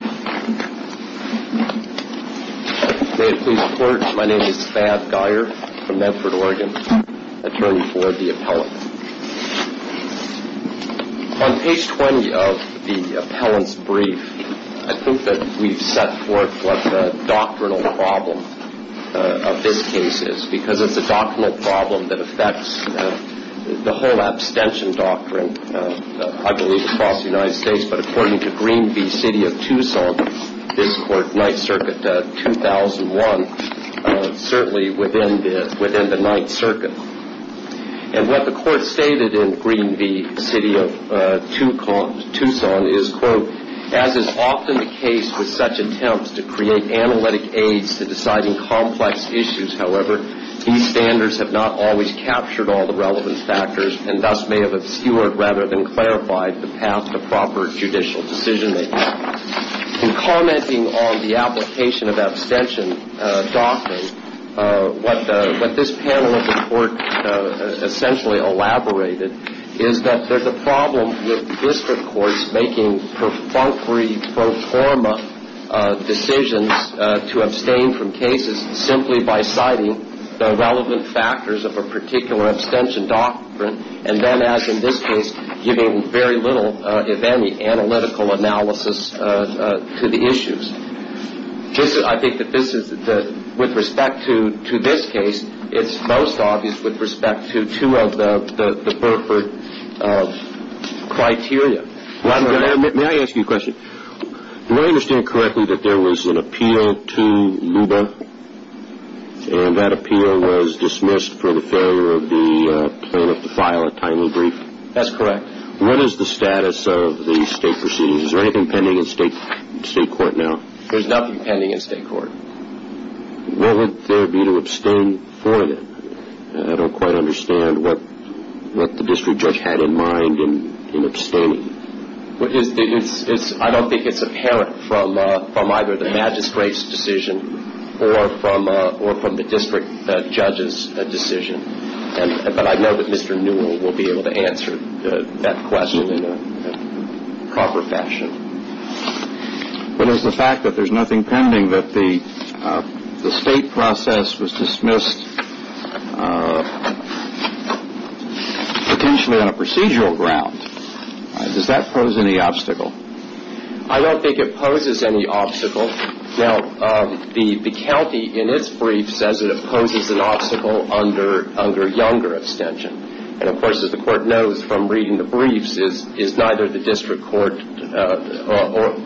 May it please the court, my name is Thad Geyer from Medford, Oregon, attorney for the appellant. On page 20 of the appellant's brief, I think that we've set forth what the doctrinal problem of this case is, because it's a doctrinal problem that affects the whole abstention doctrine, I believe, across the United States. But according to Green v. City of Tucson, this court, Ninth Circuit, 2001, certainly within the Ninth Circuit. And what the court stated in Green v. City of Tucson is, quote, As is often the case with such attempts to create analytic aids to deciding complex issues, however, these standards have not always captured all the relevant factors, and thus may have obscured rather than clarified the path to proper judicial decision-making. In commenting on the application of abstention doctrine, what this panel of the court essentially elaborated is that there's a problem with district courts making perfunctory pro forma decisions to abstain from cases simply by citing the relevant factors of a particular abstention doctrine, and then, as in this case, giving very little, if any, analytical analysis to the issues. I think that this is, with respect to this case, it's most obvious with respect to two of the Burford criteria. May I ask you a question? Do I understand correctly that there was an appeal to Luba, and that appeal was dismissed for the failure of the plaintiff to file a timely brief? That's correct. What is the status of the state proceedings? Is there anything pending in state court now? There's nothing pending in state court. What would there be to abstain for then? I don't quite understand what the district judge had in mind in abstaining. I don't think it's apparent from either the magistrate's decision or from the district judge's decision, but I know that Mr. Newell will be able to answer that question in a proper fashion. What is the fact that there's nothing pending, that the state process was dismissed potentially on a procedural ground? Does that pose any obstacle? I don't think it poses any obstacle. Now, the county, in its brief, says that it poses an obstacle under younger abstention. And, of course, as the court knows from reading the briefs, is neither the district court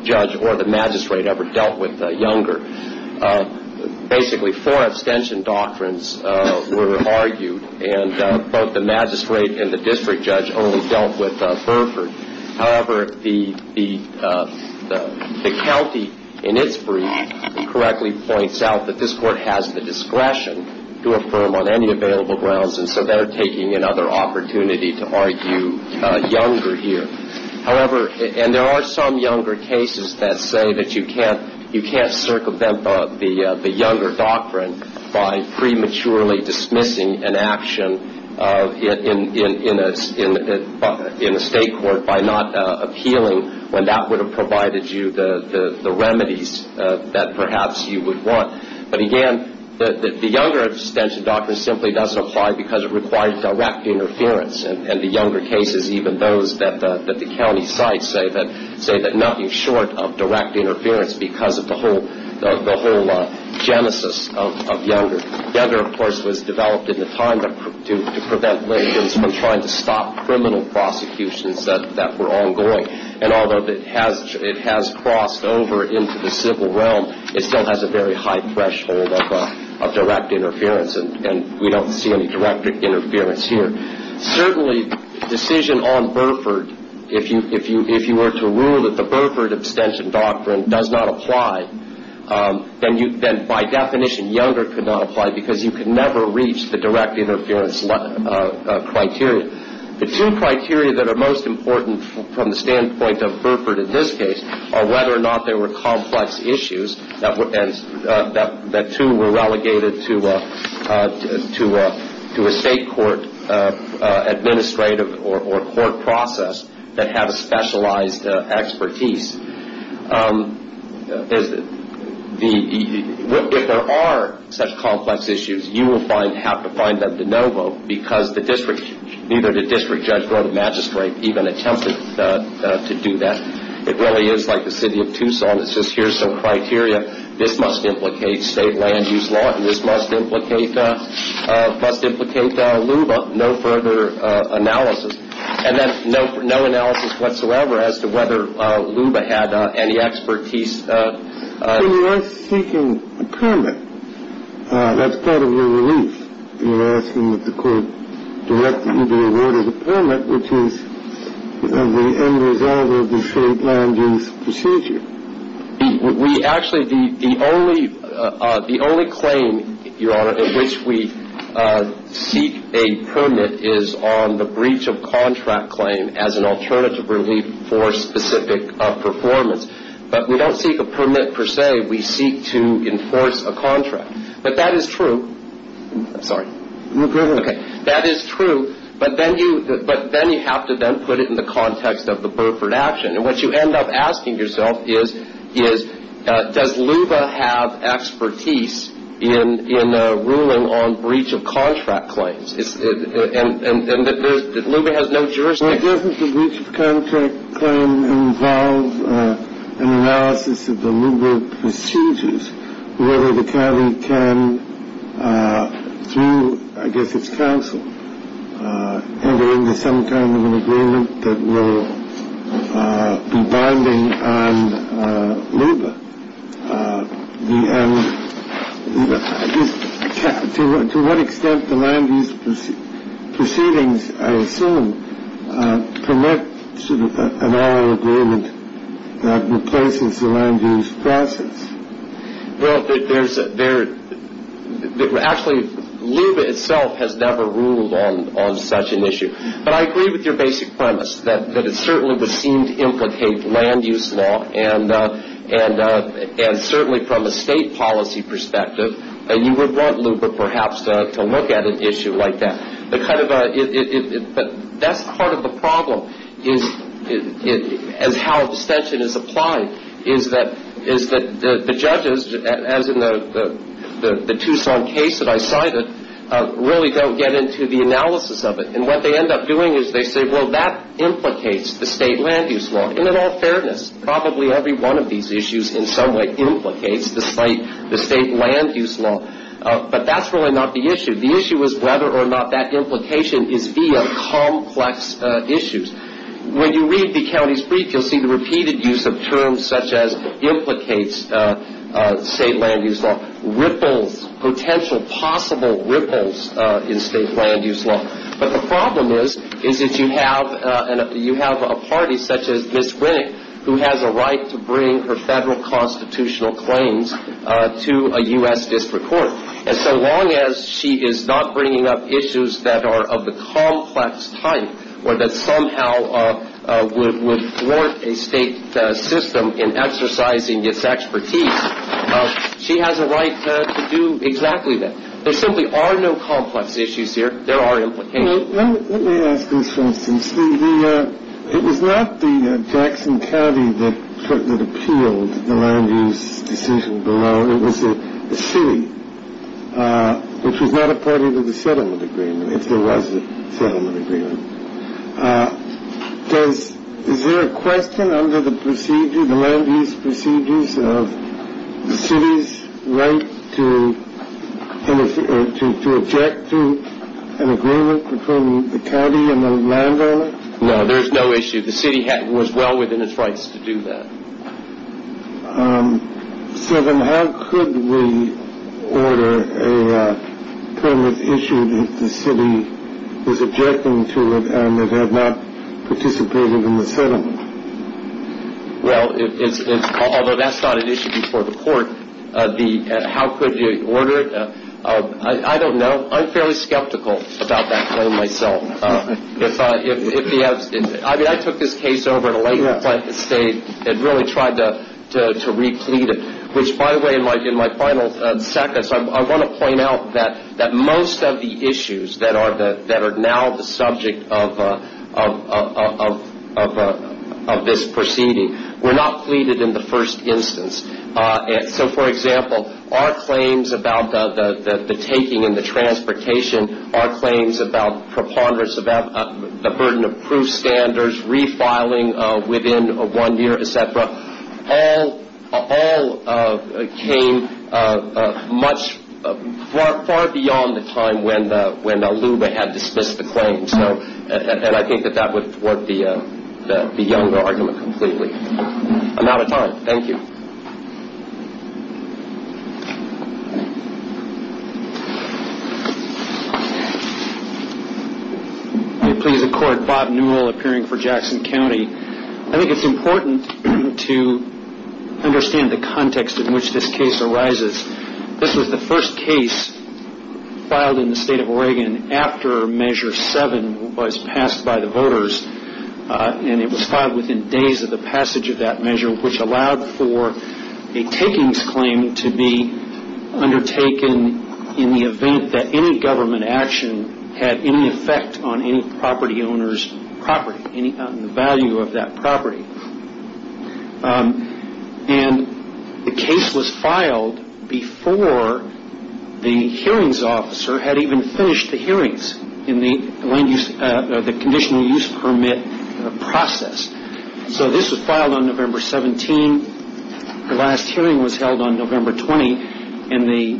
judge or the magistrate ever dealt with younger. Basically, four abstention doctrines were argued, and both the magistrate and the district judge only dealt with Burford. However, the county, in its brief, correctly points out that this court has the discretion to affirm on any available grounds, and so they're taking another opportunity to argue younger here. However, and there are some younger cases that say that you can't circumvent the younger doctrine by prematurely dismissing an action in a state court by not appealing when that would have provided you the remedies that perhaps you would want. But, again, the younger abstention doctrine simply doesn't apply because it requires direct interference. And the younger cases, even those that the county cites, say that nothing short of direct interference because of the whole genesis of younger. Younger, of course, was developed in the time to prevent Lincolns from trying to stop criminal prosecutions that were ongoing. And although it has crossed over into the civil realm, it still has a very high threshold of direct interference, and we don't see any direct interference here. Certainly, the decision on Burford, if you were to rule that the Burford abstention doctrine does not apply, then, by definition, younger could not apply because you could never reach the direct interference criteria. The two criteria that are most important from the standpoint of Burford in this case are whether or not there were complex issues that, too, were relegated to a state court administrative or court process that have a specialized expertise. If there are such complex issues, you will have to find them de novo because neither the district judge nor the magistrate even attempted to do that. It really is like the city of Tucson. It's just here's some criteria. This must implicate state land use law, and this must implicate LUBA. No further analysis. And then no analysis whatsoever as to whether LUBA had any expertise. When you are seeking a permit, that's part of your relief. You're asking that the court direct you to award a permit, which is the end result of the state land use procedure. We actually the only claim, Your Honor, in which we seek a permit is on the breach of contract claim as an alternative relief for specific performance. But we don't seek a permit per se. We seek to enforce a contract. But that is true. I'm sorry. No, go ahead. Okay. That is true, but then you have to then put it in the context of the Burford action. And what you end up asking yourself is, does LUBA have expertise in ruling on breach of contract claims? And LUBA has no jurisdiction. Doesn't the breach of contract claim involve an analysis of the LUBA procedures, whether the county can, through, I guess it's counsel, enter into some kind of an agreement that will be bonding on LUBA? To what extent the land use proceedings, I assume, permit sort of an oral agreement that replaces the land use process? Well, there's actually LUBA itself has never ruled on such an issue. But I agree with your basic premise that it certainly was seen to implicate land use law and certainly from a state policy perspective, you would want LUBA perhaps to look at an issue like that. But that's part of the problem is how abstention is applied, is that the judges, as in the Tucson case that I cited, really don't get into the analysis of it. And what they end up doing is they say, well, that implicates the state land use law, and in all fairness, probably every one of these issues in some way implicates the state land use law. But that's really not the issue. The issue is whether or not that implication is via complex issues. When you read the county's brief, you'll see the repeated use of terms such as implicates state land use law, potential possible ripples in state land use law. But the problem is that you have a party such as Ms. Winnick, who has a right to bring her federal constitutional claims to a U.S. district court. And so long as she is not bringing up issues that are of the complex type or that somehow would thwart a state system in exercising its expertise, she has a right to do exactly that. There simply are no complex issues here. There are implications. Let me ask this, for instance. It was not the Jackson County that appealed the land use decision below. It was the city, which was not a party to the settlement agreement, if there was a settlement agreement. Is there a question under the procedure, the land use procedures, of the city's right to object to an agreement between the county and the landowner? No, there is no issue. The city was well within its rights to do that. So then how could we order a permit issued if the city was objecting to it and it had not participated in the settlement? Well, although that's not an issue before the court, how could you order it? I don't know. I'm fairly skeptical about that claim myself. I mean, I took this case over at a later point in the state and really tried to replete it, which, by the way, in my final seconds, I want to point out that most of the issues that are now the subject of this proceeding were not pleaded in the first instance. So, for example, our claims about the taking and the transportation, our claims about preponderance about the burden of proof standards, refiling within one year, et cetera, all came far beyond the time when LUBA had dismissed the claim. And I think that that would thwart the younger argument completely. I'm out of time. Thank you. May it please the Court, Bob Newell, appearing for Jackson County. I think it's important to understand the context in which this case arises. This was the first case filed in the state of Oregon after Measure 7 was passed by the voters, and it was filed within days of the passage of that measure, which allowed for a takings claim to be undertaken in the event that any government action had any effect on any property owner's property, any value of that property. And the case was filed before the hearings officer had even finished the hearings in the conditional use permit process. So this was filed on November 17. The last hearing was held on November 20, and the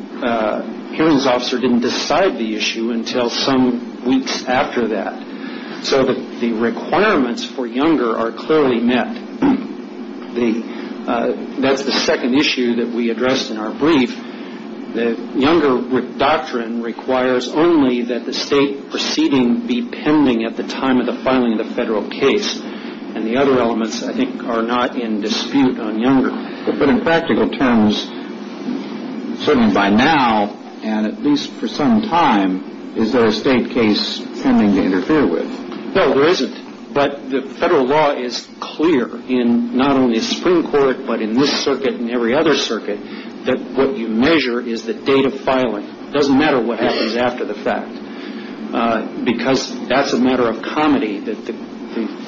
hearings officer didn't decide the issue until some weeks after that. So the requirements for younger are clearly met. That's the second issue that we addressed in our brief. The younger doctrine requires only that the state proceeding be pending at the time of the filing of the federal case, and the other elements, I think, are not in dispute on younger. But in practical terms, certainly by now, and at least for some time, is there a state case pending to interfere with? No, there isn't. But the federal law is clear in not only the Supreme Court, but in this circuit and every other circuit, that what you measure is the date of filing. It doesn't matter what happens after the fact, because that's a matter of comedy. The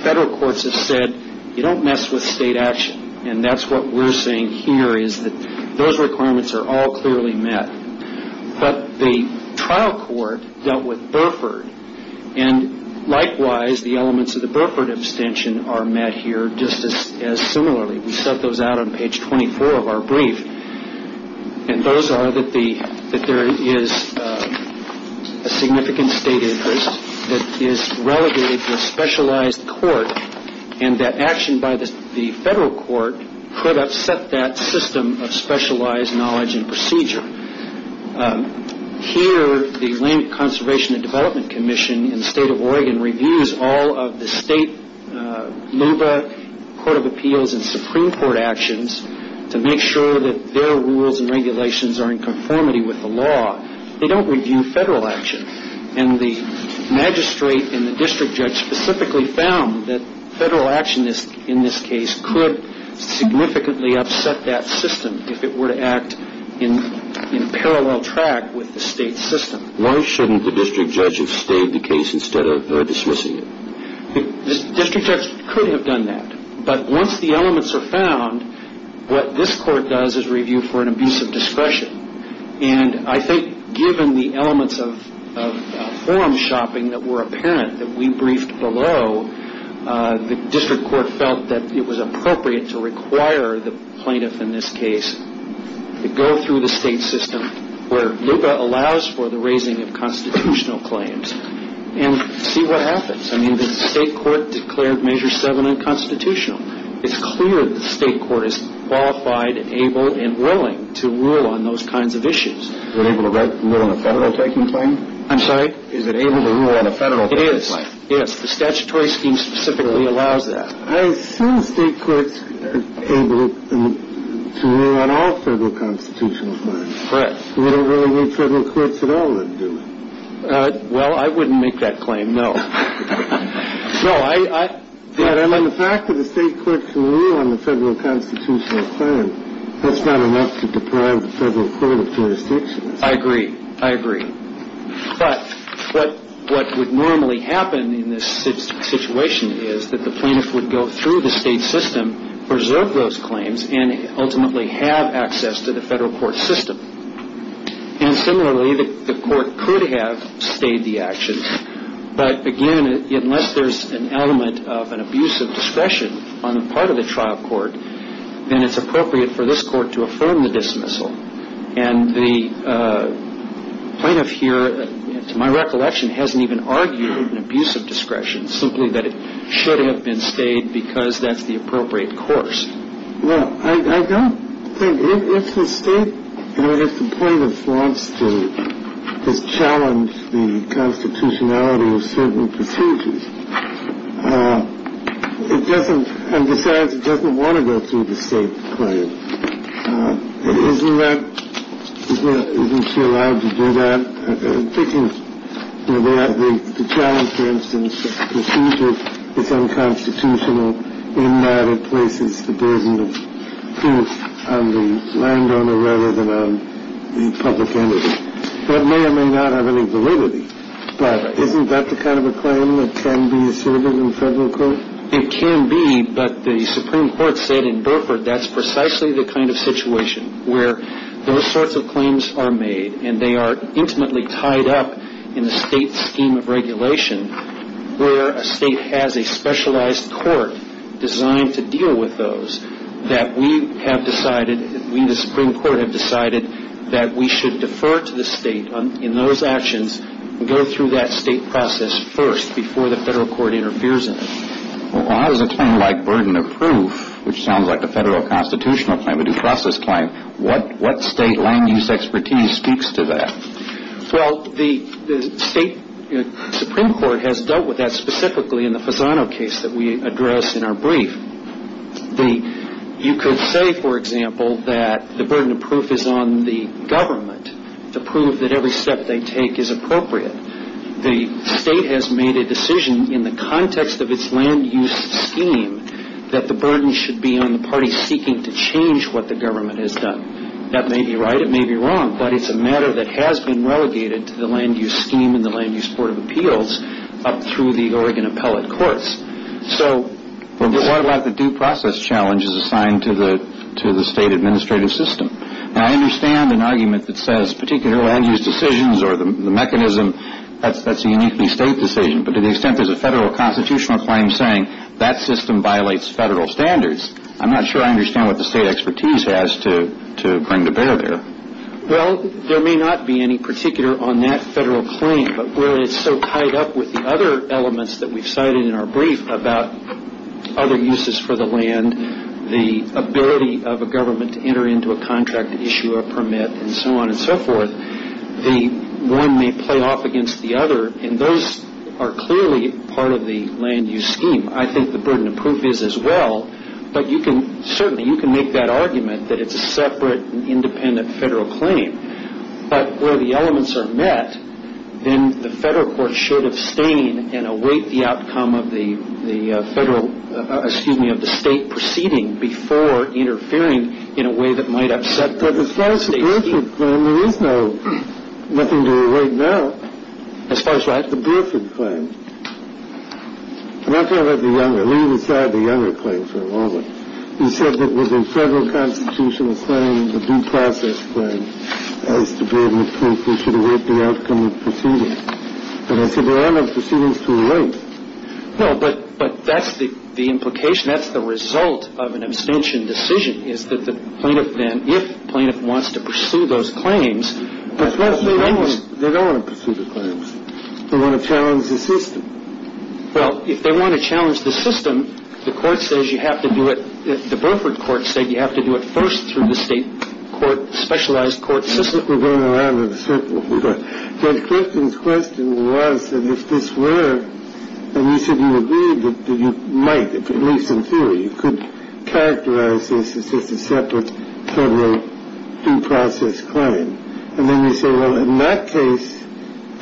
federal courts have said, you don't mess with state action, and that's what we're saying here is that those requirements are all clearly met. But the trial court dealt with Burford, and likewise the elements of the Burford abstention are met here just as similarly. We set those out on page 24 of our brief, and those are that there is a significant state interest that is relegated to a specialized court, and that action by the federal court could upset that system of specialized knowledge and procedure. Here, the Land Conservation and Development Commission in the state of Oregon reviews all of the state LUBA, Court of Appeals, and Supreme Court actions to make sure that their rules and regulations are in conformity with the law. They don't review federal action. And the magistrate and the district judge specifically found that federal action in this case could significantly upset that system if it were to act in parallel track with the state system. Why shouldn't the district judge have stayed the case instead of her dismissing it? The district judge could have done that, but once the elements are found, what this court does is review for an abuse of discretion. And I think given the elements of forum shopping that were apparent that we briefed below, the district court felt that it was appropriate to require the plaintiff in this case to go through the state system where LUBA allows for the raising of constitutional claims and see what happens. I mean, the state court declared Measure 7 unconstitutional. It's clear that the state court is qualified, able, and willing to rule on those kinds of issues. Is it able to rule on a federal taking claim? I'm sorry? Is it able to rule on a federal taking claim? It is, yes. The statutory scheme specifically allows that. I assume state courts are able to rule on all federal constitutional claims. Correct. We don't really need federal courts at all to do it. Well, I wouldn't make that claim, no. No, I... I mean, the fact that the state court can rule on the federal constitutional claim, that's not enough to deprive the federal court of jurisdiction. I agree. I agree. But what would normally happen in this situation is that the plaintiff would go through the state system, preserve those claims, and ultimately have access to the federal court system. And similarly, the court could have stayed the action. But again, unless there's an element of an abuse of discretion on the part of the trial court, then it's appropriate for this court to affirm the dismissal. And the plaintiff here, to my recollection, hasn't even argued an abuse of discretion, simply that it should have been stayed because that's the appropriate course. Well, I don't think... If the state plaintiff wants to challenge the constitutionality of certain procedures, it doesn't... And besides, it doesn't want to go through the state claim. Isn't that... Isn't she allowed to do that? The challenge, for instance, is that it's unconstitutional in that it places the burden of guilt on the landowner rather than on the public entity. That may or may not have any validity. But isn't that the kind of a claim that can be asserted in federal court? It can be, but the Supreme Court said in Burford that's precisely the kind of situation where those sorts of claims are made and they are intimately tied up in the state scheme of regulation where a state has a specialized court designed to deal with those, that we have decided, we, the Supreme Court, have decided that we should defer to the state in those actions and go through that state process first before the federal court interferes in it. Well, how does a term like burden of proof, which sounds like a federal constitutional claim, but a process claim, what state land use expertise speaks to that? Well, the state Supreme Court has dealt with that specifically in the Fasano case that we addressed in our brief. You could say, for example, that the burden of proof is on the government to prove that every step they take is appropriate. The state has made a decision in the context of its land use scheme that the burden should be on the party seeking to change what the government has done. That may be right, it may be wrong, but it's a matter that has been relegated to the land use scheme and the land use court of appeals up through the Oregon appellate courts. So what about the due process challenge is assigned to the state administrative system? Now, I understand an argument that says particular land use decisions or the mechanism, that's a uniquely state decision, but to the extent there's a federal constitutional claim saying that system violates federal standards, I'm not sure I understand what the state expertise has to bring to bear there. Well, there may not be any particular on that federal claim, but where it's so tied up with the other elements that we've cited in our brief about other uses for the land, the ability of a government to enter into a contract to issue a permit and so on and so forth, one may play off against the other, and those are clearly part of the land use scheme. I think the burden of proof is as well, but certainly you can make that argument that it's a separate independent federal claim. But where the elements are met, then the federal court should abstain and await the outcome of the state proceeding before interfering in a way that might upset the state scheme. The Burford claim, there is nothing to await now. As far as what? The Burford claim. I'm not talking about the Younger. Let me decide the Younger claim for a moment. You said that with the federal constitutional claim, the due process claim, as to be able to prove we should await the outcome of the proceeding. And I said there are no proceedings to await. No, but that's the implication. That's the result of an abstention decision is that the plaintiff then, if the plaintiff wants to pursue those claims. They don't want to pursue the claims. They want to challenge the system. Well, if they want to challenge the system, the Burford court said you have to do it first through the state specialized court system. I think we're going around in a circle. Judge Clifton's question was that if this were, and you said you agreed that you might, at least in theory, you could characterize this as just a separate federal due process claim. And then you say, well, in that case,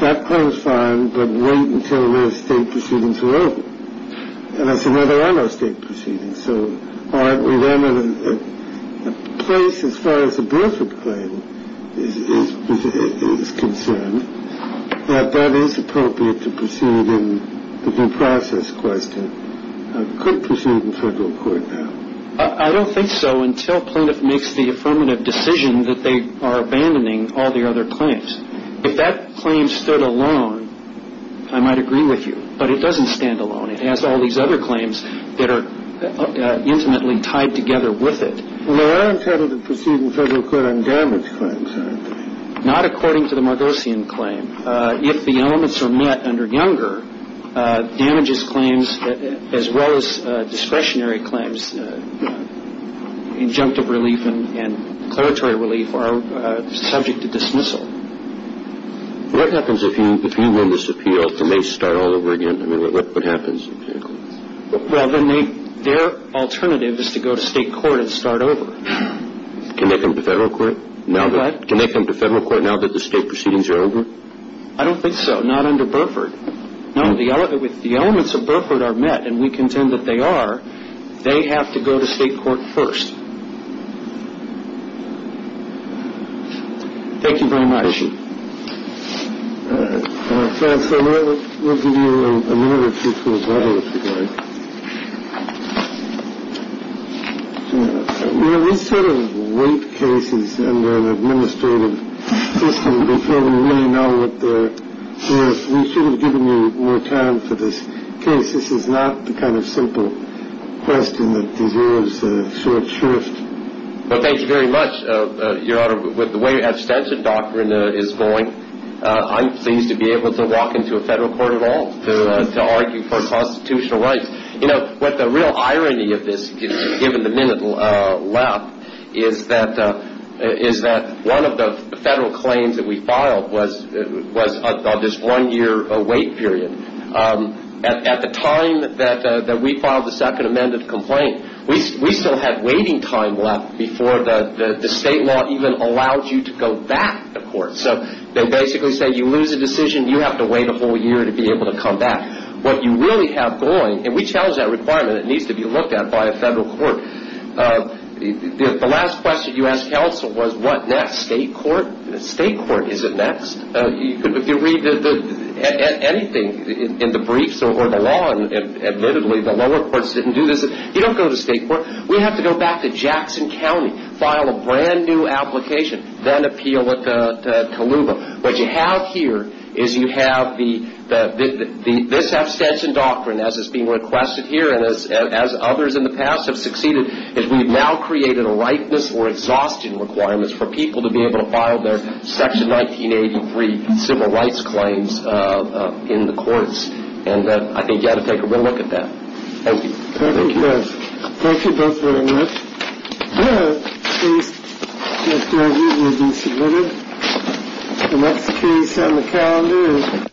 that claims fine, but wait until those state proceedings are over. And I said, no, there are no state proceedings. So aren't we then in a place, as far as the Burford claim is concerned, that that is appropriate to proceed in the due process question? It could proceed in federal court now. I don't think so until plaintiff makes the affirmative decision that they are abandoning all the other claims. If that claim stood alone, I might agree with you. But it doesn't stand alone. It has all these other claims that are intimately tied together with it. Well, they are intended to proceed in federal court on damage claims, aren't they? Not according to the Margosian claim. If the elements are met under Younger, damages claims as well as discretionary claims, injunctive relief and declaratory relief are subject to dismissal. What happens if you win this appeal and they start all over again? I mean, what happens? Well, then their alternative is to go to state court and start over. Can they come to federal court now that the state proceedings are over? I don't think so, not under Burford. No, the elements of Burford are met, and we contend that they are. They have to go to state court first. Thank you very much. We'll give you a minute or two to rebuttal, if you'd like. You know, these sort of weight cases under an administrative system, before we really know what the – we shouldn't have given you more time for this case. This is not the kind of simple question that deserves a short shift. Well, thank you very much, Your Honor. With the way abstention doctrine is going, I'm pleased to be able to walk into a federal court at all to argue for constitutional rights. You know, what the real irony of this, given the minute left, is that one of the federal claims that we filed was on this one-year wait period. At the time that we filed the second amended complaint, we still had waiting time left before the state law even allowed you to go back to court. So they basically say you lose a decision, you have to wait a whole year to be able to come back. What you really have going, and we challenge that requirement, it needs to be looked at by a federal court. The last question you asked counsel was what next, state court? State court, is it next? If you read anything in the briefs or the law, and admittedly the lower courts didn't do this, you don't go to state court. We have to go back to Jackson County, file a brand-new application, then appeal at Kaluba. What you have here is you have this abstention doctrine, as is being requested here, and as others in the past have succeeded, is we have now created a ripeness or exhaustion requirement for people to be able to file their Section 1983 civil rights claims in the courts, and I think you ought to take a real look at that. Thank you. Thank you both very much. The case will be submitted. The next case on the calendar is...